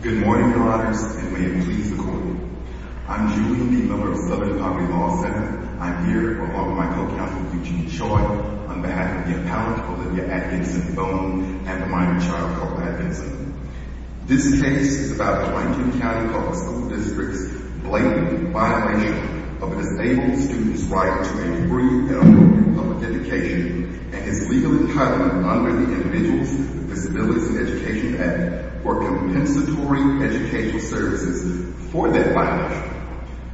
Good morning, your honors, and may it please the court. I'm Julian D. Miller of Southern Poverty Law Center. I'm here along with my co-counsel, Eugene Choi, on behalf of the appellant, Olivia Atkinson Boone, and the minor child, Cole Atkinson. This case is about Rankin County Public School District's blatant violation of an disabled student's right to a free and open public education and is legally cut under the Individuals with Disabilities in Education Act or Compensatory Educational Services for that violation.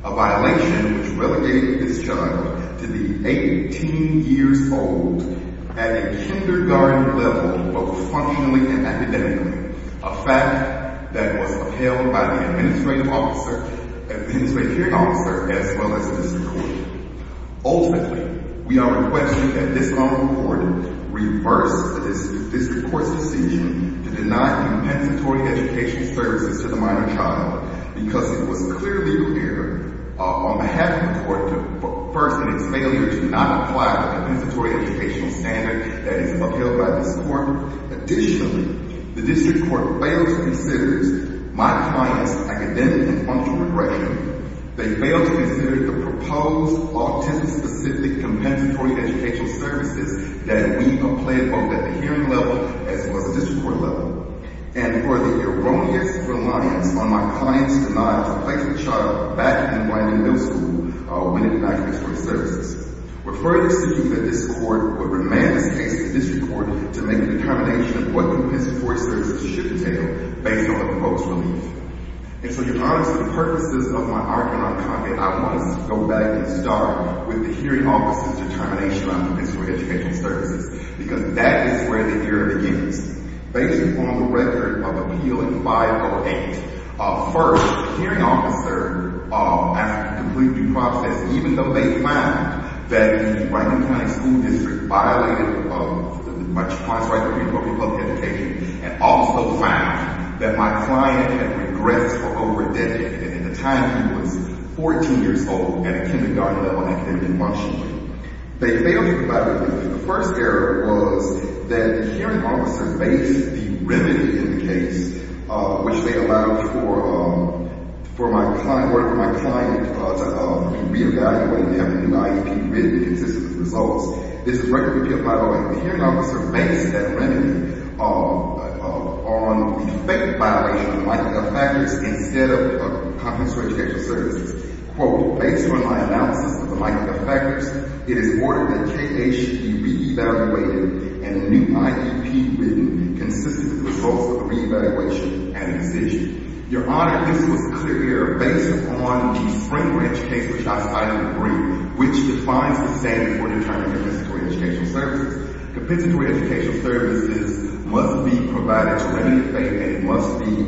A violation which relegated this child to be 18 years old at a kindergarten level, both functionally and academically. A fact that was upheld by the administrative officer and the administrative hearing officer, as well as Mr. Cooney. Ultimately, we are requesting that this honorable court reverse this district court's decision to deny compensatory educational services to the minor child because it was clearly clear on behalf of the court first that its failure to not apply the compensatory educational standard that is upheld by this court. Additionally, the district court failed to consider my client's academic and functional regression. They failed to consider the proposed autism-specific compensatory educational services that we applied both at the hearing level as well as the district court level. And for the erroneous reliance on my client's denial to place the child back in Brandon Middle School when it lacked those services. Referring this to you that this court would remand this case to district court to make a determination of what compensatory services should entail based on the proposed relief. And so, Your Honor, for the purposes of my argument on comment, I want to go back and start with the hearing officer's determination on compensatory educational services because that is where the error begins. Based on the record of Appeal 508, first, the hearing officer after the complete due process, even though they found that the Brandon County School District violated my client's right to free public education and also found that my client had regressed for over a decade and at the time he was 14 years old at a kindergarten level and academic and functional. They failed to provide relief. The first error was that the hearing officer based the remedy in the case, which they allowed for my client to re-evaluate and have a new IEP with consistent results. This is Record of Appeal 508. The hearing officer based that remedy on the fake violation of the Michael F. Fackers instead of compensatory educational services. Quote, based on my analysis of the Michael F. Fackers, it is ordered that KH should be re-evaluated and a new IEP written consistent with the proposal for re-evaluation and decision. Your Honor, this was a clear error based on the Spring Ridge case, which defines the standard for determining compensatory educational services. Compensatory educational services must be provided to remedy the failure and it must be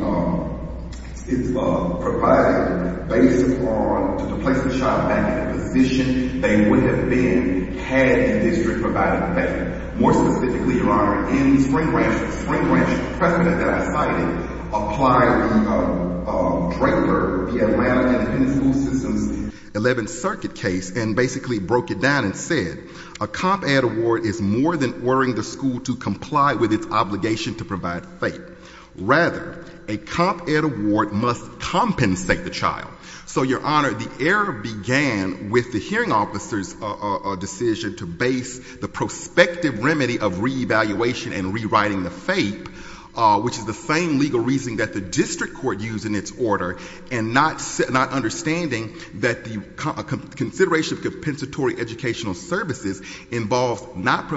provided based upon the placement shot back and the position they would have been had the district provided the failure. More specifically, Your Honor, in the Spring Ranch, the Pressman at that siting applied the DRAPER, the Atlantic and Penn School System's 11th Circuit case and basically broke it down and said, a comp ed award is more than ordering the school to comply with its obligation to provide FAPE. Rather, a comp ed award must compensate the child. So, Your Honor, the error began with the hearing officer's decision to base the prospective remedy of re-evaluation and rewriting the FAPE, which is the same legal reasoning that the district court used in its order and not understanding that the consideration of compensatory educational services involves not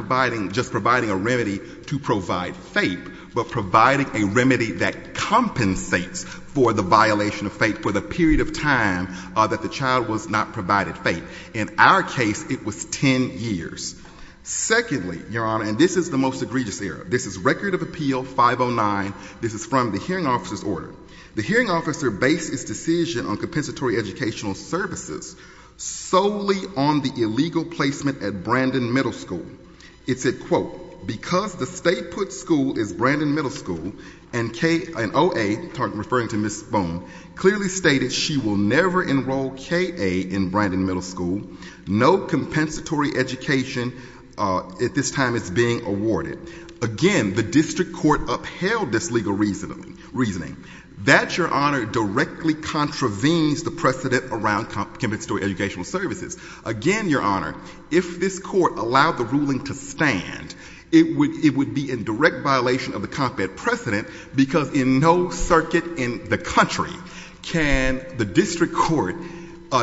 just providing a remedy to provide FAPE, but providing a remedy that compensates for the violation of FAPE for the period of time that the child was not provided FAPE. In our case, it was 10 years. Secondly, Your Honor, and this is the most egregious error. This is Record of Appeal 509. This is from the hearing officer's order. The hearing officer based his decision on compensatory educational services solely on the illegal placement at Brandon Middle School. It said, quote, because the state put school is Brandon Middle School and OA, referring to Ms. Bone, clearly stated she will never enroll KA in Brandon Middle School. No compensatory education at this time is being awarded. Again, the district court upheld this legal reasoning. That, Your Honor, directly contravenes the precedent around compensatory educational services. Again, Your Honor, if this court allowed the ruling to stand, it would be in direct violation of the comp-ed precedent because in no circuit in the country can the district court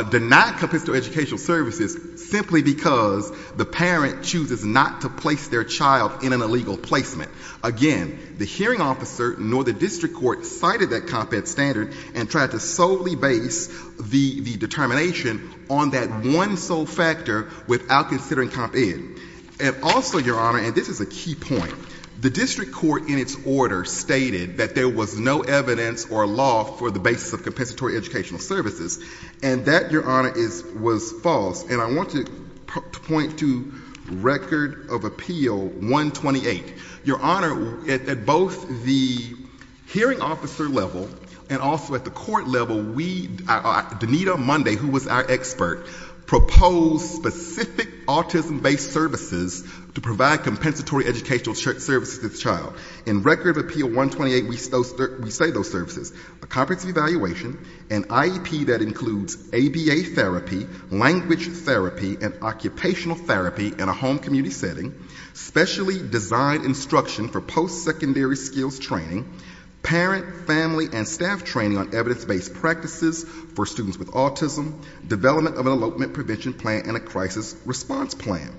deny compensatory educational services simply because the parent chooses not to place their child in an illegal placement. Again, the hearing officer nor the district court cited that comp-ed standard and tried to solely base the determination on that one sole factor without considering comp-ed. And also, Your Honor, and this is a key point, the district court in its order stated that there was no evidence or law for the basis of compensatory educational services, and that, Your Honor, was false. And I want to point to Record of Appeal 128. Your Honor, at both the hearing officer level and also at the court level, Danita Munday, who was our expert, proposed specific autism-based services to provide compensatory educational services to the child. In Record of Appeal 128, we say those services, a comprehensive evaluation, an IEP that includes ABA therapy, language therapy, and occupational therapy in a home community setting, specially designed instruction for post-secondary skills training, parent, family, and staff training on evidence-based practices for students with autism, development of an elopement prevention plan and a crisis response plan.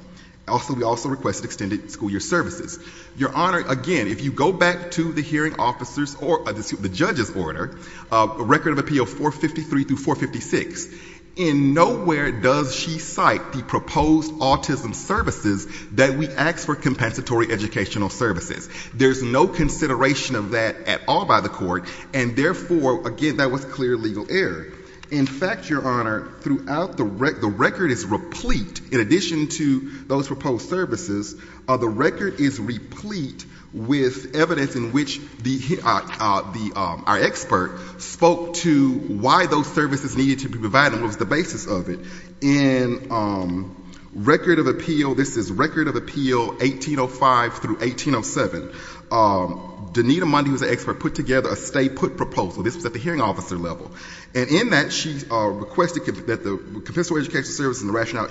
Also, we also requested extended school year services. Your Honor, again, if you go back to the hearing officer's or the judge's order, Record of Appeal 453-456, in nowhere does she cite the proposed autism services that we ask for compensatory educational services. There's no consideration of that at all by the court, and therefore, again, that was clear legal error. In fact, Your Honor, throughout the record, the record is replete, in addition to those proposed services, the record is replete with evidence in which our expert spoke to why those services needed to be provided and what was the basis of it. In Record of Appeal, this is Record of Appeal 1805-1807, Donita Mundy was an expert, put together a stay-put proposal. This was at the hearing officer level. And in that, she requested that the compensatory educational services and the rationale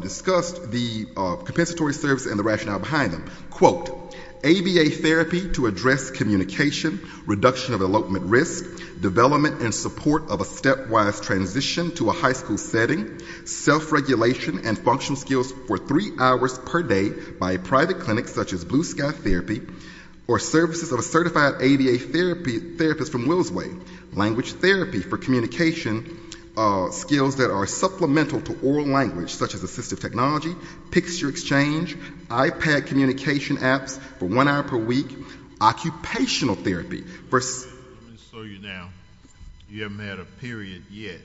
discussed the compensatory services and the rationale behind them. Quote, ABA therapy to address communication, reduction of elopement risk, development and support of a stepwise transition to a high school setting, self-regulation and functional skills for three hours per day by a private clinic, such as Blue Sky Therapy, or services of a certified ABA therapist from Willsway, language therapy for communication skills that are supplemental to oral language, such as assistive technology, picture exchange, iPad communication apps for one hour per week, occupational therapy. Let me slow you down. You haven't had a period yet.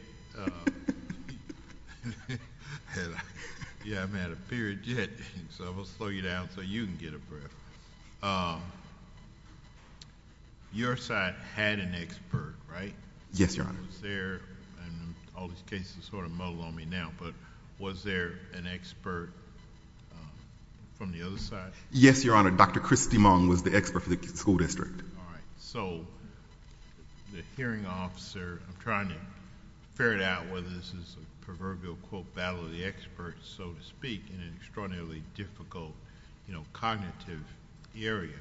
You haven't had a period yet, so I'm going to slow you down so you can get a breath. Your side had an expert, right? Yes, Your Honor. Was there... and all these cases sort of muddle on me now, but was there an expert from the other side? Yes, Your Honor. Dr. Christy Mung was the expert for the school district. All right. So the hearing officer... I'm trying to figure out whether this is a proverbial, quote, battle of the experts, so to speak, in an extraordinarily difficult cognitive area,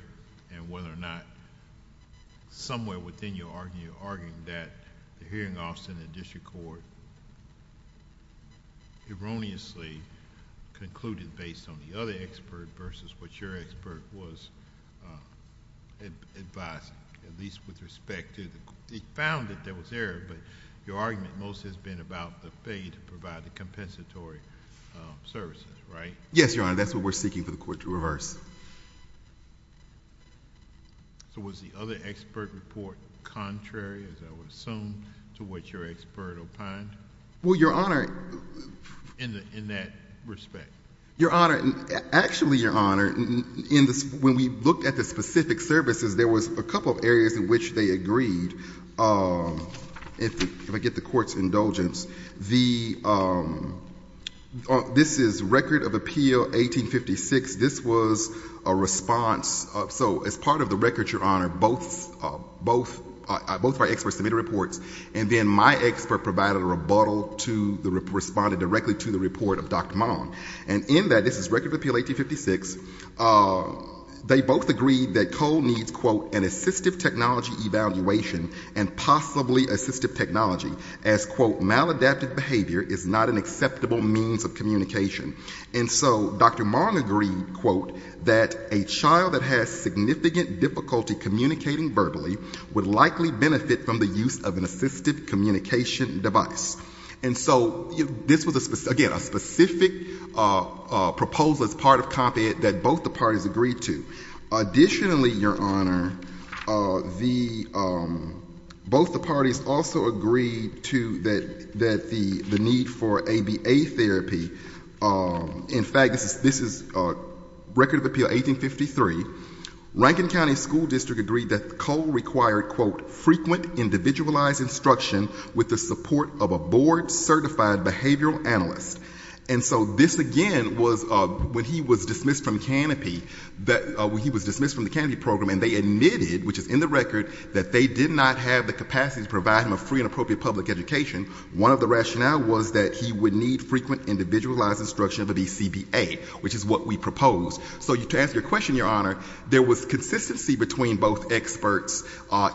and whether or not somewhere within your argument, you're arguing that the hearing officer in the district court erroneously concluded based on the other expert versus what your expert was advising, at least with respect to... He found that there was error, but your argument most has been about the failure to provide the compensatory services, right? Yes, Your Honor. That's what we're seeking for the court to reverse. So was the other expert report contrary, as I would assume, to what your expert opined? Well, Your Honor... In that respect? Your Honor, actually, Your Honor, when we looked at the specific services, there was a couple of areas in which they agreed, if I get the court's indulgence. This is Record of Appeal 1856. This was a response. So as part of the record, Your Honor, both of our experts submitted reports, and then my expert provided a rebuttal to the... responded directly to the report of Dr. Mung. And in that, this is Record of Appeal 1856, they both agreed that Cole needs, quote, an assistive technology evaluation and possibly assistive technology, as, quote, maladaptive behavior is not an acceptable means of communication. And so Dr. Mung agreed, quote, that a child that has significant difficulty communicating verbally would likely benefit from the use of an assistive communication device. And so this was, again, a specific proposal as part of Comp Ed that both the parties agreed to. Additionally, Your Honor, both the parties also agreed to the need for ABA therapy. In fact, this is Record of Appeal 1853. Rankin County School District agreed that Cole required, quote, individualized instruction with the support of a board-certified behavioral analyst. And so this, again, was when he was dismissed from Canopy, when he was dismissed from the Canopy program and they admitted, which is in the record, that they did not have the capacity to provide him a free and appropriate public education, one of the rationale was that he would need frequent individualized instruction of a BCBA, which is what we proposed. So to answer your question, Your Honor, there was consistency between both experts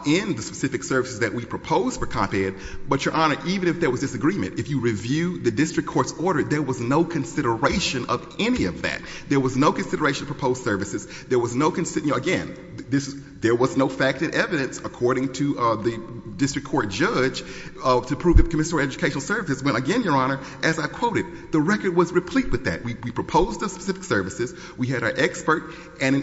in the specific services that we proposed for Comp Ed. But, Your Honor, even if there was disagreement, if you review the district court's order, there was no consideration of any of that. There was no consideration of proposed services. There was no, again, there was no fact and evidence, according to the district court judge, to prove that the Commissioner for Educational Services went again, Your Honor, as I quoted. The record was replete with that. We proposed the specific services. We had our expert,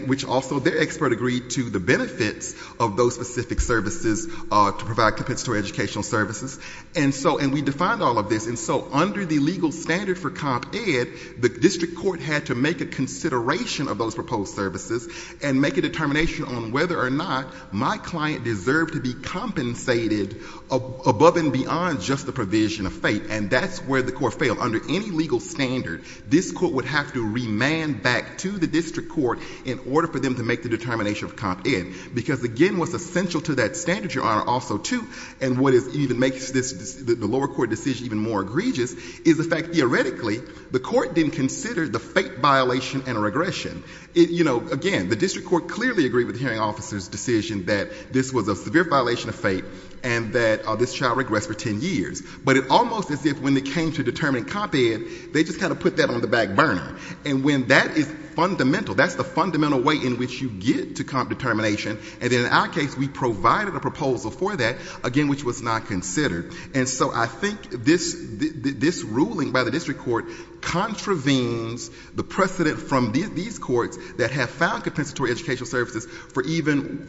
which also their expert agreed to the benefits of those specific services to provide compensatory educational services. And we defined all of this. And so under the legal standard for Comp Ed, the district court had to make a consideration of those proposed services and make a determination on whether or not my client deserved to be compensated above and beyond just the provision of fate. And that's where the court failed. Under any legal standard, this court would have to remand back to the district court in order for them to make the determination of Comp Ed. Because, again, what's essential to that standard, Your Honor, also, too, and what even makes the lower court decision even more egregious is the fact, theoretically, the court didn't consider the fate violation and regression. You know, again, the district court clearly agreed with the hearing officer's decision that this was a severe violation of fate and that this shall regress for 10 years. But it almost as if when it came to determining Comp Ed, they just kind of put that on the back burner. And when that is fundamental, that's the fundamental way in which you get to comp determination. And in our case, we provided a proposal for that, again, which was not considered. And so I think this ruling by the district court contravenes the precedent from these courts that have found compensatory educational services for even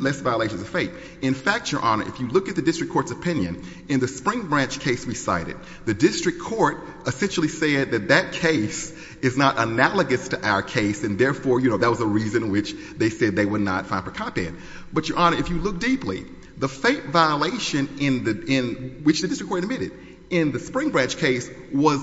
less violations of fate. In fact, Your Honor, if you look at the district court's opinion, in the Spring Branch case we cited, the district court essentially said that that case is not analogous to our case, and therefore, you know, that was a reason which they said they would not fine for Comp Ed. But, Your Honor, if you look deeply, the fate violation in which the district court admitted in the Spring Branch case was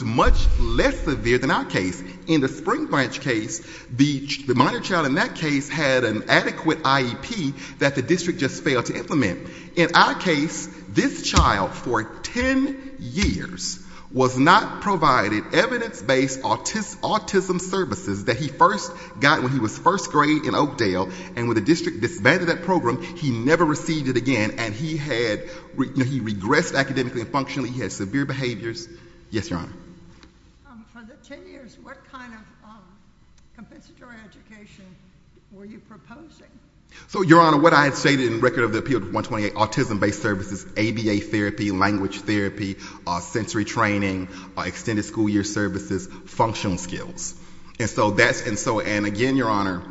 much less severe than our case. In the Spring Branch case, the minor child in that case had an adequate IEP that the district just failed to implement. In our case, this child for 10 years was not provided evidence-based autism services that he first got when he was first grade in Oakdale. And when the district disbanded that program, he never received it again. And he had, you know, he regressed academically and functionally. He had severe behaviors. Yes, Your Honor. For the 10 years, what kind of compensatory education were you proposing? So, Your Honor, what I had stated in Record of Appeal 128, autism-based services, ABA therapy, language therapy, sensory training, extended school year services, functional skills. And so that's, and so, and again, Your Honor,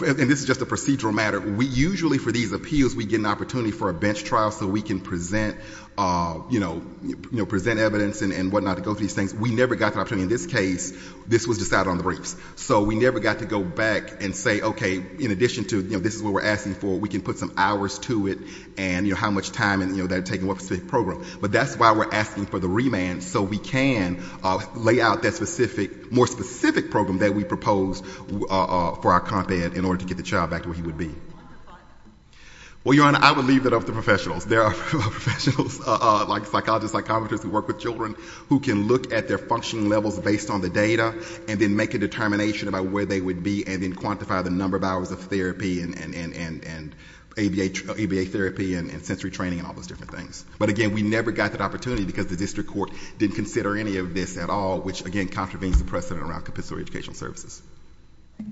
and this is just a procedural matter, we usually, for these appeals, we get an opportunity for a bench trial so we can present, you know, present evidence and whatnot to go through these things. We never got that opportunity in this case. This was decided on the briefs. So we never got to go back and say, okay, in addition to, you know, this is what we're asking for, we can put some hours to it and, you know, how much time, you know, that it would take in one specific program. But that's why we're asking for the remand so we can lay out that specific, more specific program that we propose for our content in order to get the child back to where he would be. Well, Your Honor, I would leave that up to professionals. There are professionals, like psychologists, like commenters who work with children who can look at their functioning levels based on the data and then make a determination about where they would be and then quantify the number of hours of therapy and ABA therapy and sensory training and all those different things. But again, we never got that opportunity because the district court didn't consider any of this at all, which, again, contravenes the precedent around compulsory educational services. All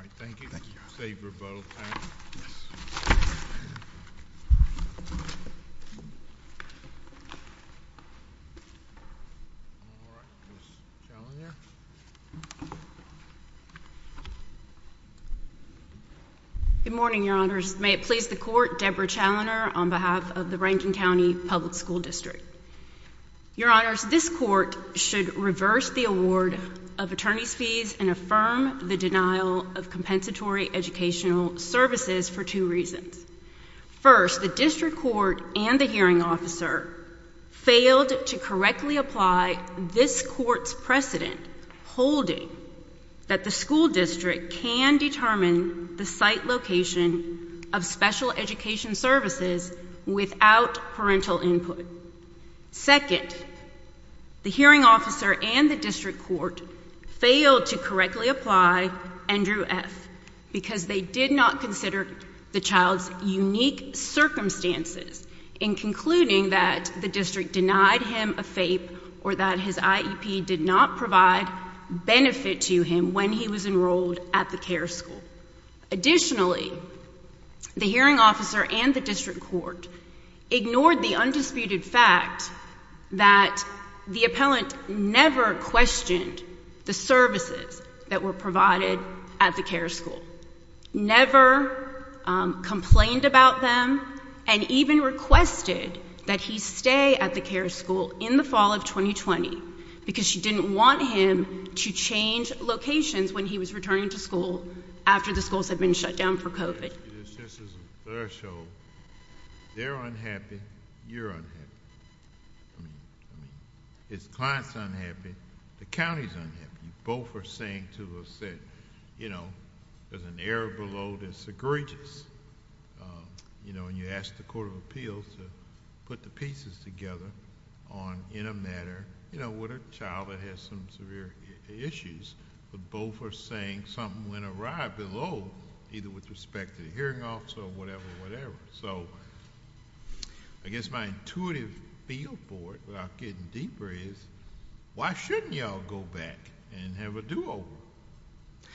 right. Thank you. Thank you, Your Honor. Good morning, Your Honors. May it please the Court, Deborah Challoner on behalf of the Rankin County Public School District. Your Honors, this court should reverse the award of attorney's fees and affirm the denial of compensatory educational services for two reasons. First, the district court and the hearing officer failed to correctly apply this court's precedent holding that the school district can determine the site location of special education services without parental input. Second, the hearing officer and the district court failed to correctly apply Andrew F. because they did not consider the child's unique circumstances in concluding that the district denied him a FAPE or that his IEP did not provide benefit to him when he was enrolled at the care school. Additionally, the hearing officer and the district court ignored the undisputed fact that the appellant never questioned the services that were provided at the care school, never complained about them, and even requested that he stay at the care school in the fall of 2020 because she didn't want him to change locations when he was returning to school after the schools had been shut down for COVID. This is a fair show. They're unhappy. You're unhappy. I mean, his client's unhappy. The county's unhappy. You both are saying to us that, you know, there's an error below this egregious. You know, when you ask the Court of Appeals to put the pieces together in a matter, you know, with a child that has some severe issues, but both are saying something went awry below, either with respect to the hearing officer or whatever, whatever. So I guess my intuitive feel for it, without getting deeper, is why shouldn't y'all go back and have a do-over?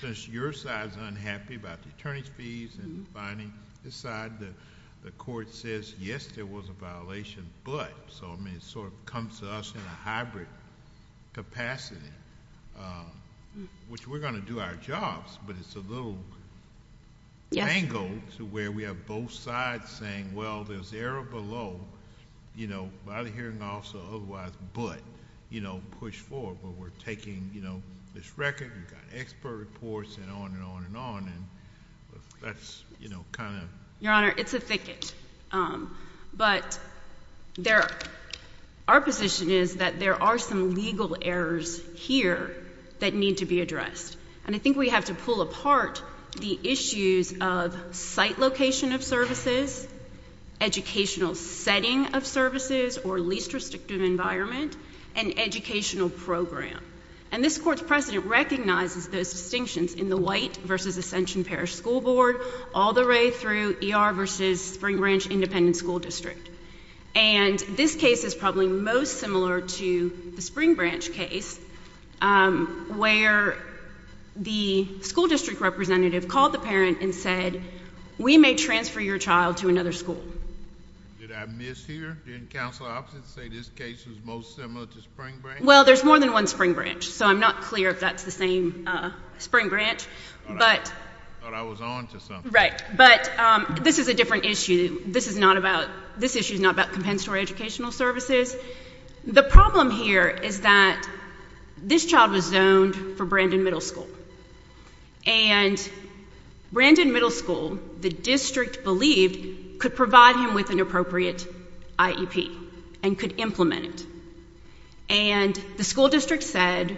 Since your side's unhappy about the attorney's fees and finding this side, the court says, yes, there was a violation, but. So, I mean, it sort of comes to us in a hybrid capacity, which we're going to do our jobs, but it's a little dangled to where we have both sides saying, well, there's error below, you know, by the hearing officer, otherwise, but, you know, push forward. We're taking, you know, this record. We've got expert reports and on and on and on, and that's, you know, kind of. Your Honor, it's a thicket. But our position is that there are some legal errors here that need to be addressed, and I think we have to pull apart the issues of site location of services, educational setting of services or least restrictive environment, and educational program. And this Court's precedent recognizes those distinctions in the White versus Ascension Parish School Board all the way through ER versus Spring Branch Independent School District. And this case is probably most similar to the Spring Branch case, where the school district representative called the parent and said, we may transfer your child to another school. Did I miss here? Didn't counsel officers say this case was most similar to Spring Branch? Well, there's more than one Spring Branch, so I'm not clear if that's the same Spring Branch. I thought I was on to something. Right. But this is a different issue. This issue is not about compensatory educational services. The problem here is that this child was zoned for Brandon Middle School, and Brandon Middle School, the district believed, could provide him with an appropriate IEP and could implement it. And the school district said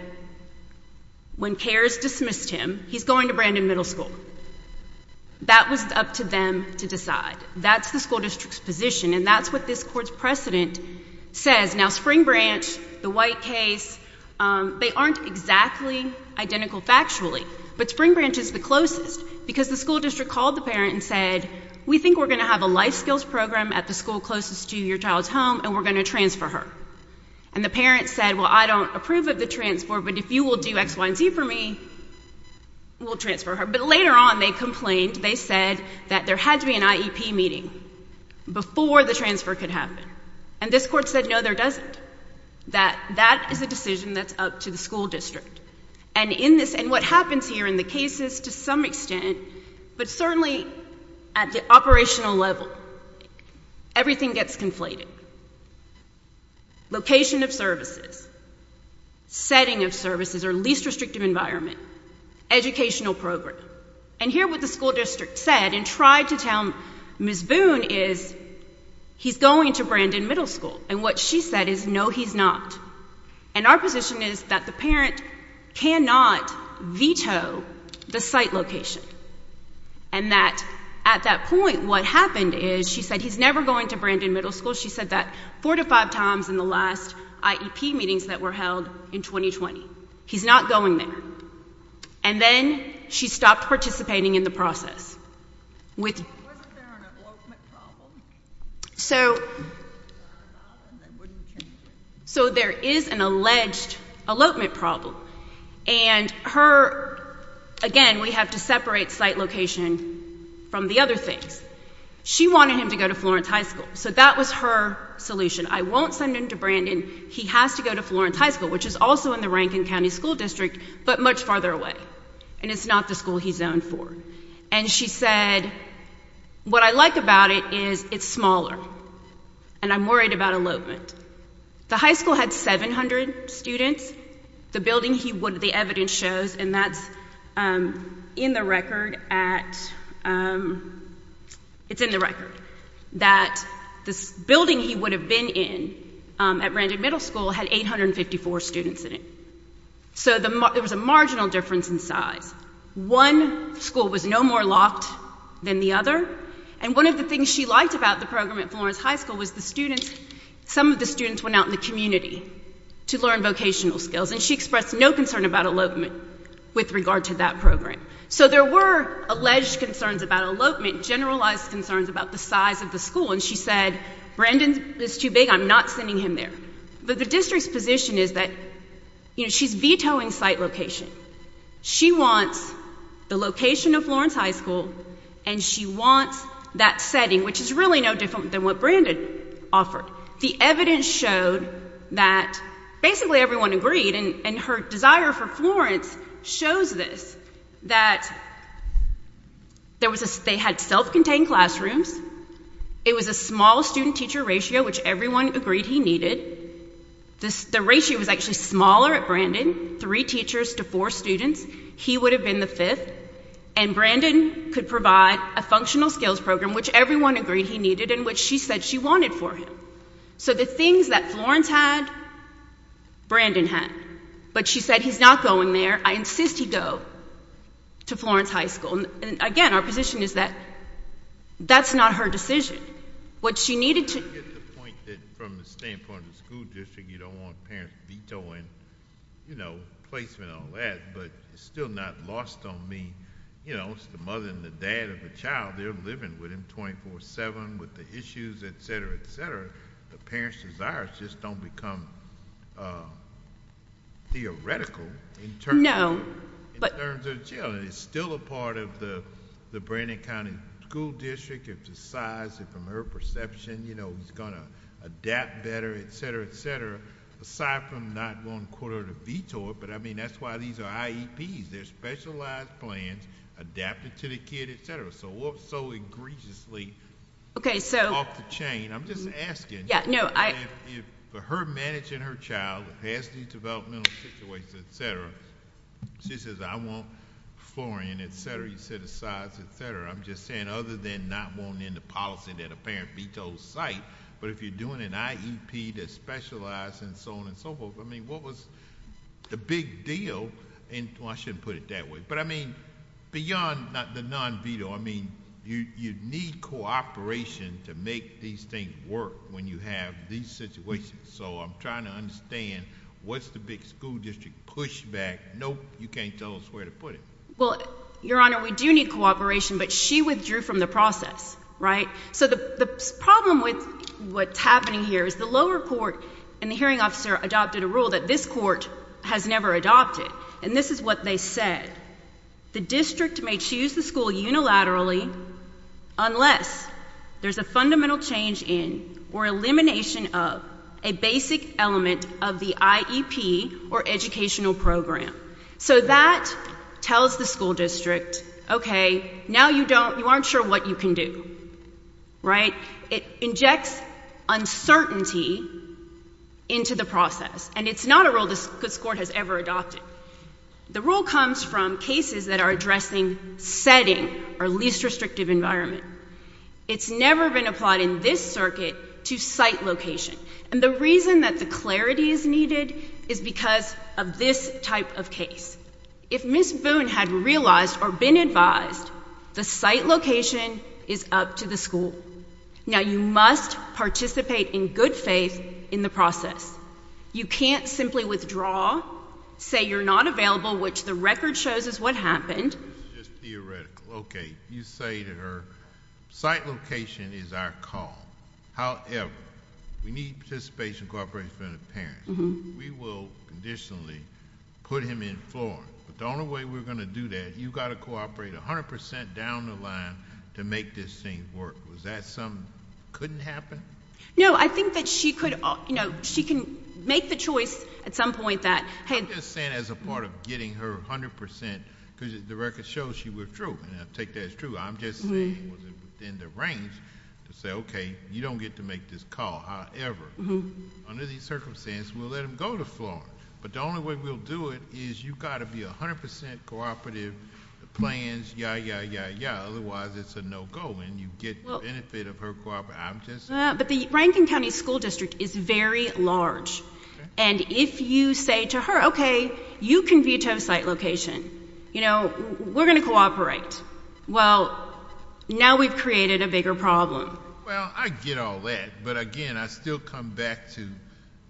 when CARES dismissed him, he's going to Brandon Middle School. That was up to them to decide. That's the school district's position, and that's what this Court's precedent says. Now, Spring Branch, the White case, they aren't exactly identical factually, but Spring Branch is the closest because the school district called the parent and said, we think we're going to have a life skills program at the school closest to your child's home, and we're going to transfer her. And the parent said, well, I don't approve of the transfer, but if you will do X, Y, and Z for me, we'll transfer her. But later on, they complained. They said that there had to be an IEP meeting before the transfer could happen. And this Court said, no, there doesn't. That is a decision that's up to the school district. And what happens here in the cases, to some extent, but certainly at the operational level, everything gets conflated. Location of services, setting of services, or least restrictive environment, educational program. And here what the school district said and tried to tell Ms. Boone is, he's going to Brandon Middle School. And what she said is, no, he's not. And our position is that the parent cannot veto the site location. And that at that point, what happened is, she said he's never going to Brandon Middle School. She said that four to five times in the last IEP meetings that were held in 2020. He's not going there. And then she stopped participating in the process. Wasn't there an elopement problem? So there is an alleged elopement problem. And her, again, we have to separate site location from the other things. She wanted him to go to Florence High School. So that was her solution. I won't send him to Brandon. He has to go to Florence High School, which is also in the Rankin County School District, but much farther away. And it's not the school he's zoned for. And she said, what I like about it is it's smaller, and I'm worried about elopement. The high school had 700 students. The building, the evidence shows, and that's in the record at, it's in the record, that the building he would have been in at Brandon Middle School had 854 students in it. So there was a marginal difference in size. One school was no more locked than the other. And one of the things she liked about the program at Florence High School was the students, some of the students went out in the community to learn vocational skills. And she expressed no concern about elopement with regard to that program. So there were alleged concerns about elopement, generalized concerns about the size of the school. And she said, Brandon is too big. I'm not sending him there. But the district's position is that she's vetoing site location. She wants the location of Florence High School, and she wants that setting, which is really no different than what Brandon offered. The evidence showed that basically everyone agreed, and her desire for Florence shows this, that they had self-contained classrooms, it was a small student-teacher ratio, which everyone agreed he needed. The ratio was actually smaller at Brandon, three teachers to four students. He would have been the fifth. And Brandon could provide a functional skills program, which everyone agreed he needed, and which she said she wanted for him. So the things that Florence had, Brandon had. But she said, he's not going there. I insist he go to Florence High School. And again, our position is that that's not her decision. I get the point that from the standpoint of the school district, you don't want parents vetoing placement and all that, but it's still not lost on me. It's the mother and the dad of the child. They're living with him 24-7 with the issues, et cetera, et cetera. The parents' desires just don't become theoretical in terms of jail. And it's still a part of the Brandon County School District if the size and from her perception, you know, he's going to adapt better, et cetera, et cetera. Aside from not going to quote her to veto it, but I mean that's why these are IEPs. They're specialized plans adapted to the kid, et cetera. So what's so egregiously off the chain? I'm just asking. For her managing her child, the past developmental situations, et cetera, she says, I want Florian, et cetera. You said the size, et cetera. I'm just saying other than not wanting the policy that a parent vetoes site, but if you're doing an IEP that's specialized and so on and so forth, I mean what was the big deal? Well, I shouldn't put it that way. But I mean beyond the non-veto, I mean you need cooperation to make these things work when you have these situations. So I'm trying to understand what's the big school district pushback? Nope, you can't tell us where to put it. Well, Your Honor, we do need cooperation, but she withdrew from the process, right? So the problem with what's happening here is the lower court and the hearing officer adopted a rule that this court has never adopted, and this is what they said. The district may choose the school unilaterally unless there's a fundamental change in or elimination of a basic element of the IEP or educational program. So that tells the school district, okay, now you don't, you aren't sure what you can do, right? It injects uncertainty into the process, and it's not a rule this court has ever adopted. The rule comes from cases that are addressing setting, or least restrictive environment. It's never been applied in this circuit to site location. And the reason that the clarity is needed is because of this type of case. If Ms. Boone had realized or been advised the site location is up to the school. Now, you must participate in good faith in the process. You can't simply withdraw, say you're not available, which the record shows is what happened. It's just theoretical. Okay, you say to her, site location is our call. However, we need participation and cooperation from the parents. We will conditionally put him in Florida. But the only way we're going to do that, you've got to cooperate 100% down the line to make this thing work. Was that something that couldn't happen? No, I think that she could, you know, she can make the choice at some point that had. I'm just saying as a part of getting her 100%, because the record shows she withdrew, and I take that as true. I'm just saying within the range to say, okay, you don't get to make this call. However, under these circumstances, we'll let him go to Florida. But the only way we'll do it is you've got to be 100% cooperative, the plans, yeah, yeah, yeah, yeah. Otherwise, it's a no-go, and you get the benefit of her cooperation. But the Rankin County School District is very large. And if you say to her, okay, you can veto site location. You know, we're going to cooperate. Well, now we've created a bigger problem. Well, I get all that. But, again, I still come back to,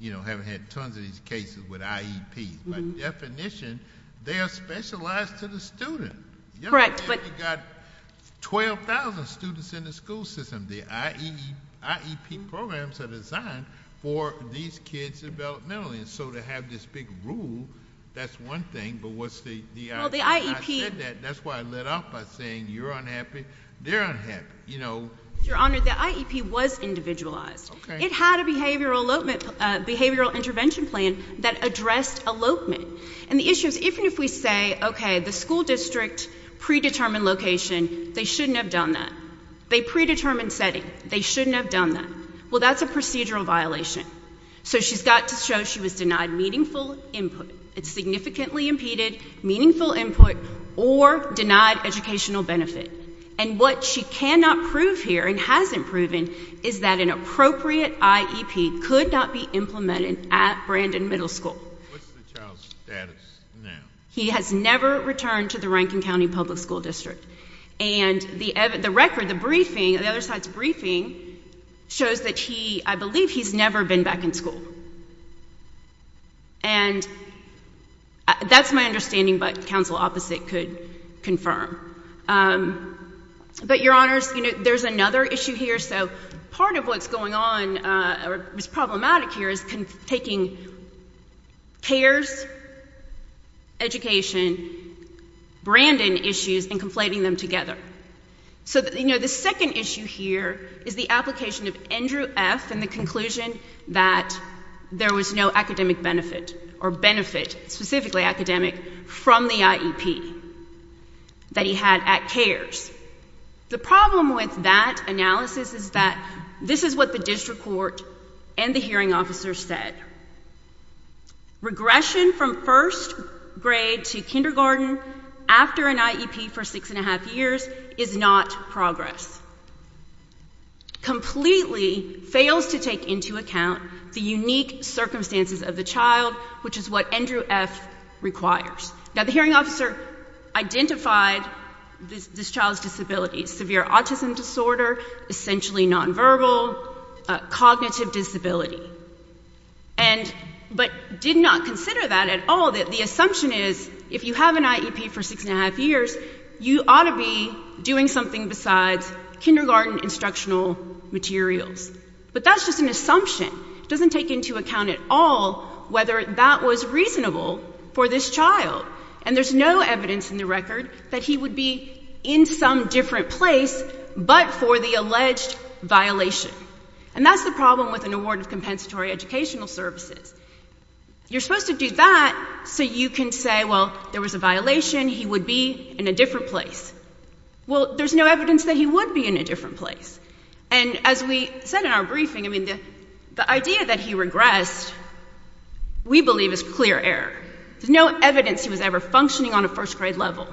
you know, having had tons of these cases with IEP. By definition, they are specialized to the student. Correct. You've got 12,000 students in the school system. The IEP programs are designed for these kids developmentally. And so to have this big rule, that's one thing, but what's the other? I said that. That's why I let off by saying you're unhappy, they're unhappy. Your Honor, the IEP was individualized. It had a behavioral intervention plan that addressed elopement. And the issue is even if we say, okay, the school district predetermined location, they shouldn't have done that. They predetermined setting. They shouldn't have done that. Well, that's a procedural violation. So she's got to show she was denied meaningful input. It's significantly impeded meaningful input or denied educational benefit. And what she cannot prove here and hasn't proven is that an appropriate IEP could not be implemented at Brandon Middle School. What's the child's status now? He has never returned to the Rankin County Public School District. And the record, the briefing, the other side's briefing, shows that he, I believe, he's never been back in school. And that's my understanding, but counsel opposite could confirm. But, Your Honors, you know, there's another issue here. So part of what's going on or is problematic here is taking CARES, education, Brandon issues and conflating them together. So, you know, the second issue here is the application of Andrew F. in the conclusion that there was no academic benefit or benefit, specifically academic, from the IEP that he had at CARES. The problem with that analysis is that this is what the district court and the hearing officer said. Regression from first grade to kindergarten after an IEP for six and a half years is not progress. Completely fails to take into account the unique circumstances of the child, which is what Andrew F. requires. Now, the hearing officer identified this child's disability, severe autism disorder, essentially nonverbal, cognitive disability, but did not consider that at all, that the assumption is if you have an IEP for six and a half years, you ought to be doing something besides kindergarten instructional materials. But that's just an assumption. It doesn't take into account at all whether that was reasonable for this child. And there's no evidence in the record that he would be in some different place but for the alleged violation. And that's the problem with an award of compensatory educational services. You're supposed to do that so you can say, well, there was a violation, he would be in a different place. Well, there's no evidence that he would be in a different place. And as we said in our briefing, I mean, the idea that he regressed, we believe is clear error. There's no evidence he was ever functioning on a first grade level.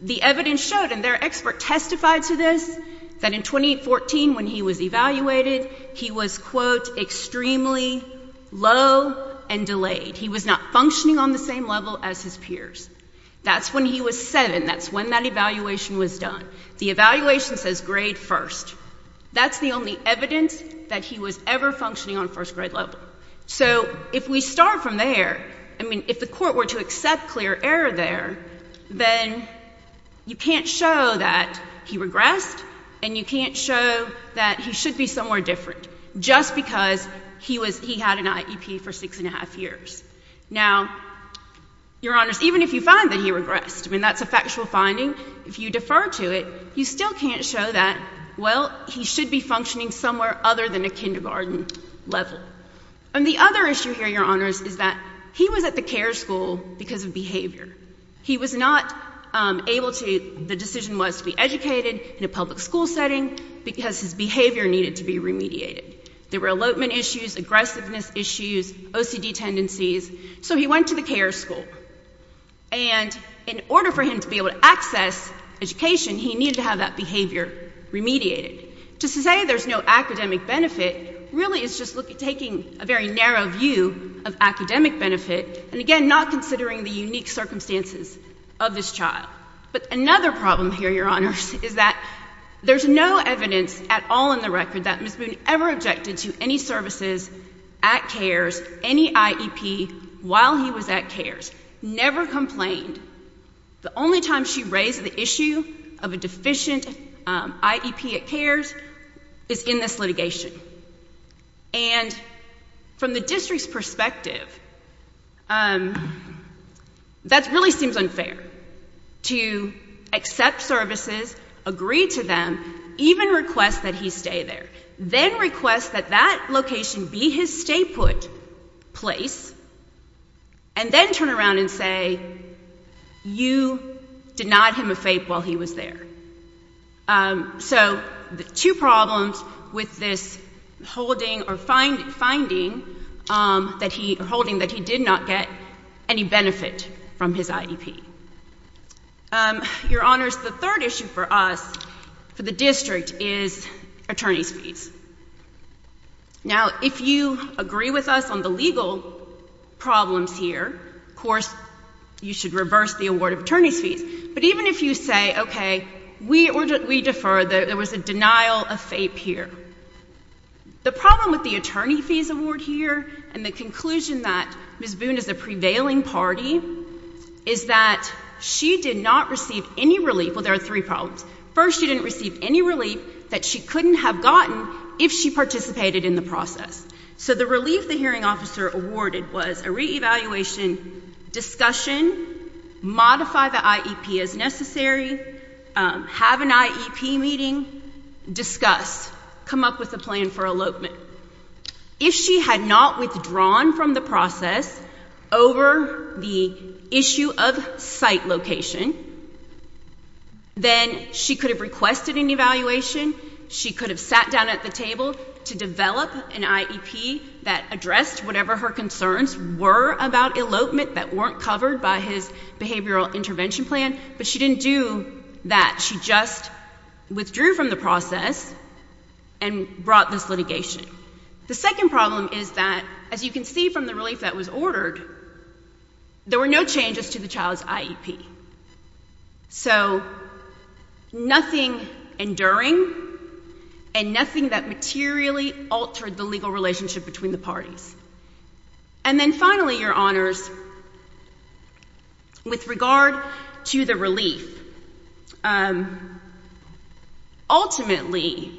The evidence showed, and their expert testified to this, that in 2014 when he was evaluated, he was, quote, extremely low and delayed. He was not functioning on the same level as his peers. That's when he was seven. That's when that evaluation was done. The evaluation says grade first. That's the only evidence that he was ever functioning on first grade level. So if we start from there, I mean, if the court were to accept clear error there, then you can't show that he regressed and you can't show that he should be somewhere different just because he had an IEP for six and a half years. Now, Your Honors, even if you find that he regressed, I mean, that's a factual finding, if you defer to it, you still can't show that, well, he should be functioning somewhere other than a kindergarten level. And the other issue here, Your Honors, is that he was at the care school because of behavior. He was not able to, the decision was to be educated in a public school setting because his behavior needed to be remediated. There were elopement issues, aggressiveness issues, OCD tendencies, so he went to the care school. And in order for him to be able to access education, he needed to have that behavior remediated. To say there's no academic benefit really is just taking a very narrow view of academic benefit and, again, not considering the unique circumstances of this child. But another problem here, Your Honors, is that there's no evidence at all in the record that Ms. Boone ever objected to any services at CARES, any IEP while he was at CARES, never complained. The only time she raised the issue of a deficient IEP at CARES is in this litigation. And from the district's perspective, that really seems unfair to accept services, agree to them, even request that he stay there, then request that that location be his stay-put place, and then turn around and say, you denied him a FAPE while he was there. So two problems with this holding or finding that he did not get any benefit from his IEP. Your Honors, the third issue for us, for the district, is attorney's fees. Now, if you agree with us on the legal problems here, of course, you should reverse the award of attorney's fees. But even if you say, okay, we defer, there was a denial of FAPE here. The problem with the attorney fees award here and the conclusion that Ms. Boone is a prevailing party is that she did not receive any relief. Well, there are three problems. First, she didn't receive any relief that she couldn't have gotten if she participated in the process. So the relief the hearing officer awarded was a reevaluation, discussion, modify the IEP as necessary, have an IEP meeting, discuss, come up with a plan for elopement. If she had not withdrawn from the process over the issue of site location, then she could have requested an evaluation, she could have sat down at the table to develop an IEP that addressed whatever her concerns were about elopement that weren't covered by his behavioral intervention plan, but she didn't do that. She just withdrew from the process and brought this litigation. The second problem is that, as you can see from the relief that was ordered, there were no changes to the child's IEP. So nothing enduring and nothing that materially altered the legal relationship between the parties. And then finally, Your Honors, with regard to the relief, ultimately,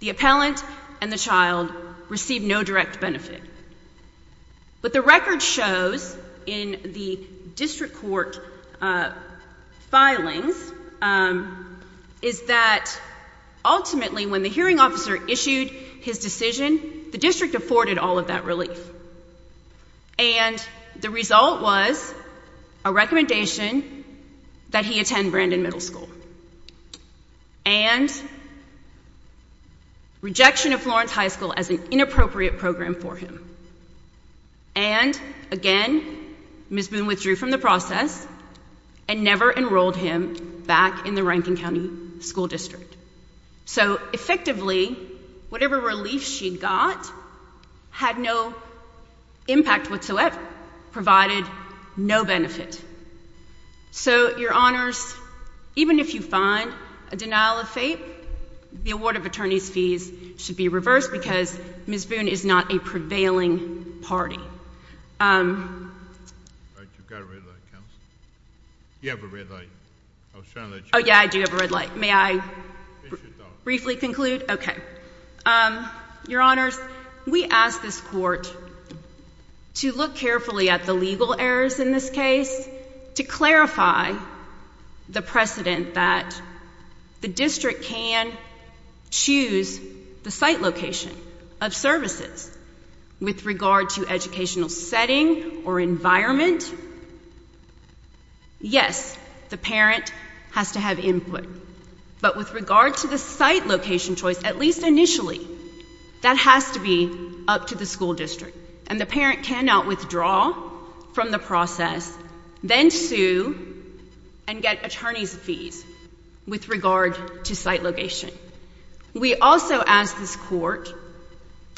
the appellant and the child received no direct benefit. What the record shows in the district court filings is that, ultimately, when the hearing officer issued his decision, the district afforded all of that relief. And the result was a recommendation that he attend Brandon Middle School and rejection of Florence High School as an inappropriate program for him. And, again, Ms. Boone withdrew from the process and never enrolled him back in the Rankin County School District. So, effectively, whatever relief she got had no impact whatsoever, provided no benefit. So, Your Honors, even if you find a denial of fate, the award of attorney's fees should be reversed because Ms. Boone is not a prevailing party. All right, you've got a red light, Counsel. You have a red light. I was trying to let you know. Oh, yeah, I do have a red light. May I briefly conclude? Your Honors, we ask this court to look carefully at the legal errors in this case to clarify the precedent that the district can choose the site location of services with regard to educational setting or environment. Yes, the parent has to have input. But with regard to the site location choice, at least initially, that has to be up to the school district. And the parent cannot withdraw from the process, then sue and get attorney's fees with regard to site location. We also ask this court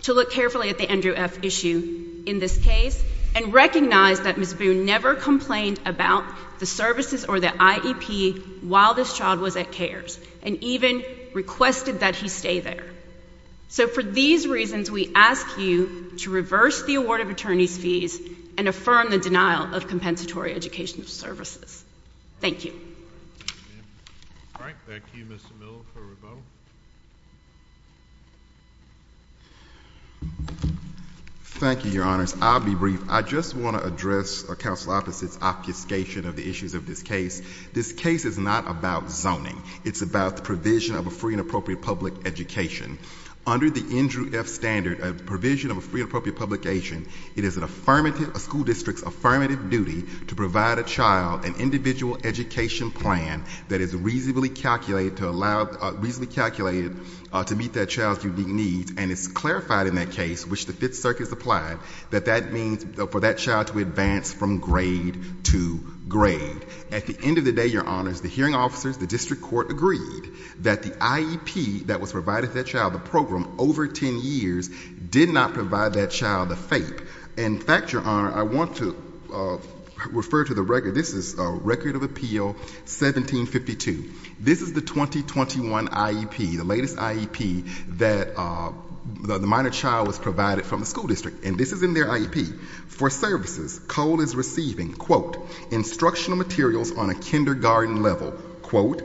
to look carefully at the Andrew F. issue in this case and recognize that Ms. Boone never complained about the services or the IEP while this child was at CARES and even requested that he stay there. So, for these reasons, we ask you to reverse the award of attorney's fees and affirm the denial of compensatory educational services. Thank you. All right, back to you, Mr. Miller for rebuttal. Thank you, Your Honors. I'll be brief. I just want to address Counsel Opposite's obfuscation of the issues of this case. This case is not about zoning. It's about the provision of a free and appropriate public education. Under the Andrew F. standard, a provision of a free and appropriate public education, it is a school district's affirmative duty to provide a child an individual education plan that is reasonably calculated to meet that child's unique needs, and it's clarified in that case, which the Fifth Circuit has applied, that that means for that child to advance from grade to grade. At the end of the day, Your Honors, the hearing officers, the district court, agreed that the IEP that was provided to that child, the program, over 10 years, did not provide that child the FAPE. In fact, Your Honor, I want to refer to the record. This is Record of Appeal 1752. This is the 2021 IEP, the latest IEP, that the minor child was provided from the school district, and this is in their IEP. For services, Cole is receiving quote, instructional materials on a kindergarten level, quote,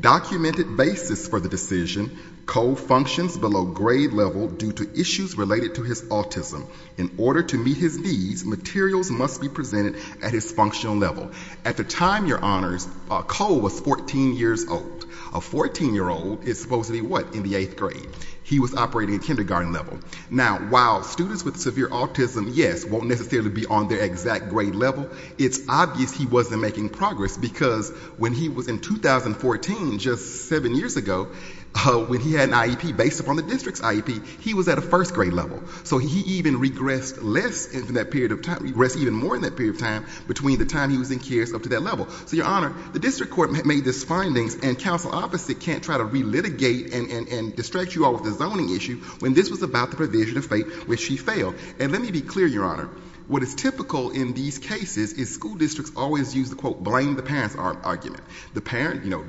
documented basis for the decision, Cole functions below grade level due to issues related to his autism. In order to meet his needs, materials must be presented at his functional level. At the time, Your Honors, Cole was 14 years old. A 14-year-old is supposed to be what in the 8th grade? He was operating at kindergarten level. Now, while students with severe autism, yes, won't necessarily be on their exact grade level, it's obvious he wasn't making progress because when he was in 2014, just 7 years ago, when he had an IEP based upon the district's IEP, he was at a first grade level. So he even regressed less in that period of time, regressed even more in that period of time between the time he was in CARES up to that level. So, Your Honor, the district court made these findings and counsel opposite can't try to re-litigate and distract you all with the zoning issue when this was about the provision of fate, which he failed. And let me be clear, Your Honor, what is typical in these cases is school districts always use the quote, blame the parents argument. The parent, you know,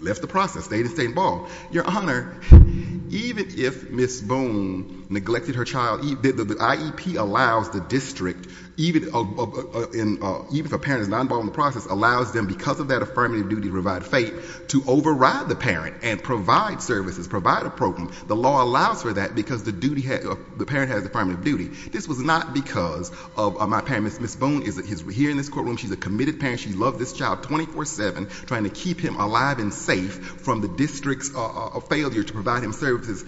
left the process, stayed and stayed involved. Your Honor, even if Ms. Boone neglected her child, the IEP allows the district, even if a parent is not involved in the process, allows them, because of that affirmative duty to provide fate, to override the parent and provide services, provide a program. The law allows for that because the parent has affirmative duty. This was not because of my parents. Ms. Boone is here in this courtroom. She's a committed parent. She loved this child 24-7, trying to keep him alive and safe from the district's failure to provide him services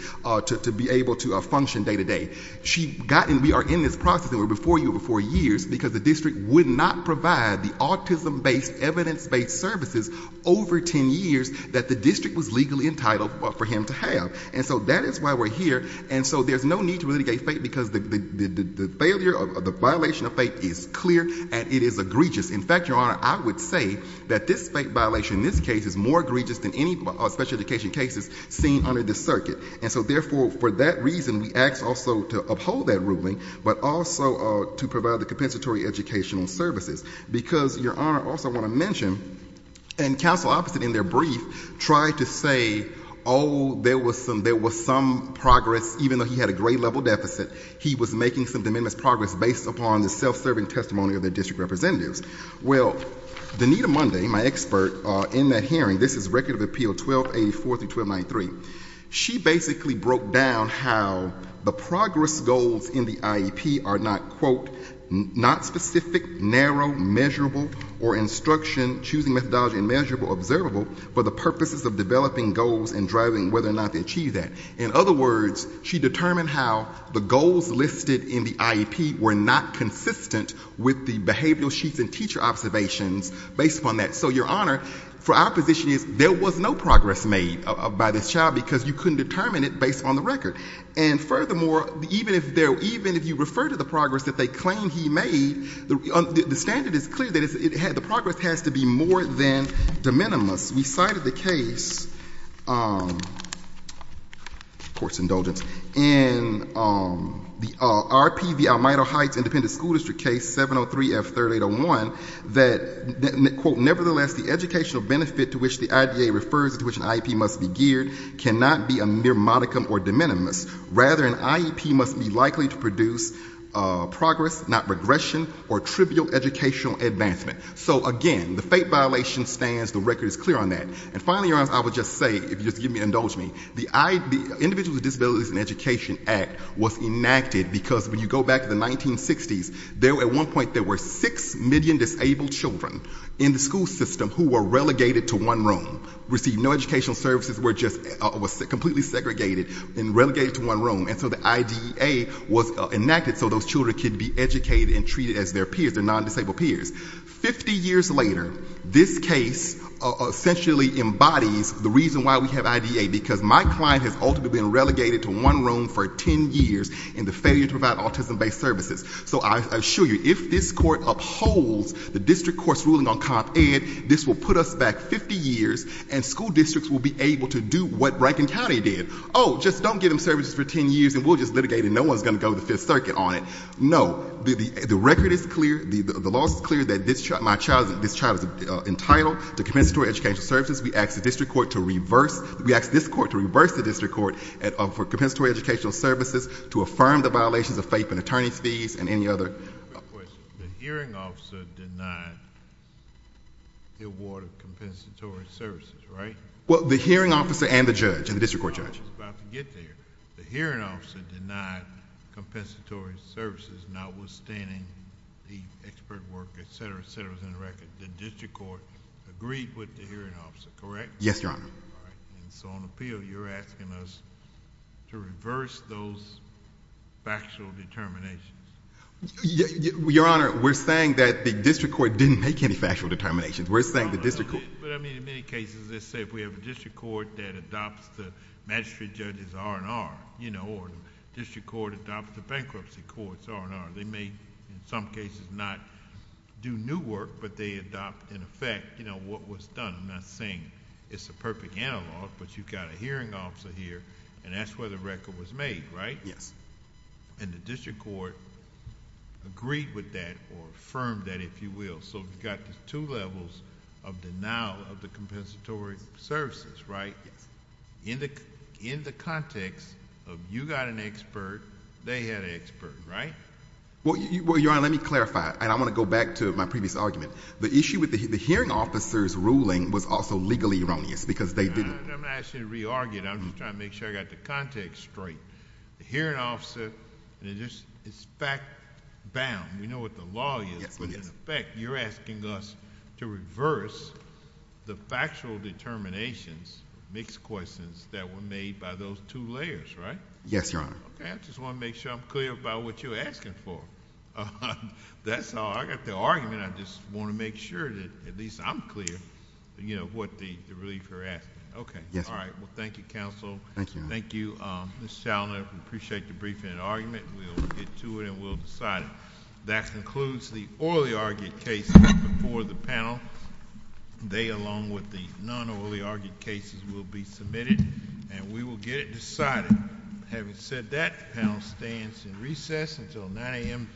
to be able to function day-to-day. She got, and we are in this process, and we're before you for years, because the district would not provide the autism-based, evidence-based services over 10 years that the district was legally entitled for him to have. And so that is why we're here. And so there's no need to re-litigate fate because the failure, the violation of fate is clear and it is egregious. In fact, Your Honor, I would say that this fate violation in this case is more egregious than any special education cases seen under this circuit. And so therefore, for that reason, we ask also to uphold that ruling, but also to provide the compensatory educational services because, Your Honor, I also want to mention, and counsel opposite in their brief tried to say, oh, there was some progress, even though he had a grade-level deficit, he was making some de minimis progress based upon the self-serving testimony of their district representatives. Well, Danita Munday, my expert in that hearing, this is Record of Appeal 1284-1293, she basically broke down how the progress goals in the IEP are not, quote, not specific, narrow, measurable, or instruction, choosing methodology, immeasurable, observable, but the purposes of developing goals and driving whether or not they achieve that. In other words, she determined how the goals listed in the IEP were not consistent with the behavioral sheets and teacher observations based upon that. So, Your Honor, for our position is there was no progress made by this child because you couldn't determine it based on the record. And furthermore, even if you refer to the progress that they claim he made, the standard is clear that the progress has to be more than de minimis. We cited the case, court's indulgence, in the RP v. Almeida Heights Independent School District case 703-F-3801 that, quote, nevertheless, the educational benefit to which the IDA refers, to which an IEP must be geared, cannot be a mere modicum or de minimis. Rather, an IEP must be likely to produce progress, not regression or trivial educational advancement. So, again, the fate violation stands. The record is clear on that. And finally, Your Honor, I would just say, if you'll just indulge me, the Individuals with Disabilities in Education Act was enacted because when you go back to the 1960s, at one point there were six million disabled children in the school system who were relegated to one room, received no educational services, were just completely segregated and relegated to one room. And so the IDA was enacted so those children could be educated and treated as their peers, their non-disabled peers. Fifty years later, this case essentially embodies the reason why we have IDA, because my client has ultimately been relegated to one room for 10 years in the failure to provide autism-based services. So I assure you, if this court upholds the district court's ruling on Comp Ed, this will put us back 50 years and school districts will be able to do what Rankin County did. Oh, just don't give them services for 10 years and we'll just litigate and no one's going to go to the Fifth Circuit on it. No. The record is clear. The law is clear that this child, my child, this child is entitled to compensatory educational services. We ask the district court to reverse, we ask this court to reverse the district court for compensatory educational services to affirm the violations of faith and attorney's fees and any other... Quick question. The hearing officer denied the award of compensatory services, right? Well, the hearing officer and the judge, and the district court judge. I was about to get there. The hearing officer denied compensatory services notwithstanding the expert work, et cetera, et cetera, within the record. The district court agreed with the hearing officer, correct? Yes, Your Honor. All right. So on appeal, you're asking us to reverse those factual determinations? Your Honor, we're saying that the district court didn't make any factual determinations. We're saying the district court... But I mean, in many cases, let's say if we have a district court that adopts the magistrate judge's R&R, or the district court adopts the bankruptcy court's R&R, they may, in some cases, not do new work, but they adopt, in effect, what was done. I'm not saying it's a perfect analog, but you've got a hearing officer here, and that's where the record was made, right? Yes. And the district court agreed with that or affirmed that, if you will. So we've got the two levels of denial of the compensatory services, right? Yes. In the context of you got an expert, they had an expert, right? Well, Your Honor, let me clarify, and I want to go back to my previous argument. The issue with the hearing officer's ruling was also legally erroneous because they didn't... I'm not asking you to re-argue it. I'm just trying to make sure I've got the context straight. The hearing officer is fact-bound. We know what the law is. Yes, we do. In effect, you're asking us to reverse the factual determinations, mixed questions, that were made by those two layers, right? Yes, Your Honor. Okay, I just want to make sure I'm clear about what you're asking for. That's all. I've got the argument. I just want to make sure that at least I'm clear about what the relief you're asking. Okay, all right. Well, thank you, counsel. Thank you, Your Honor. Thank you, Ms. Shalner. We appreciate your briefing and argument. We'll get to it, and we'll decide it. That concludes the orally argued case before the panel. They, along with the non-orally argued cases, will be submitted, and we will get it decided. Having said that, the panel stands in recess until 9 a.m. tomorrow.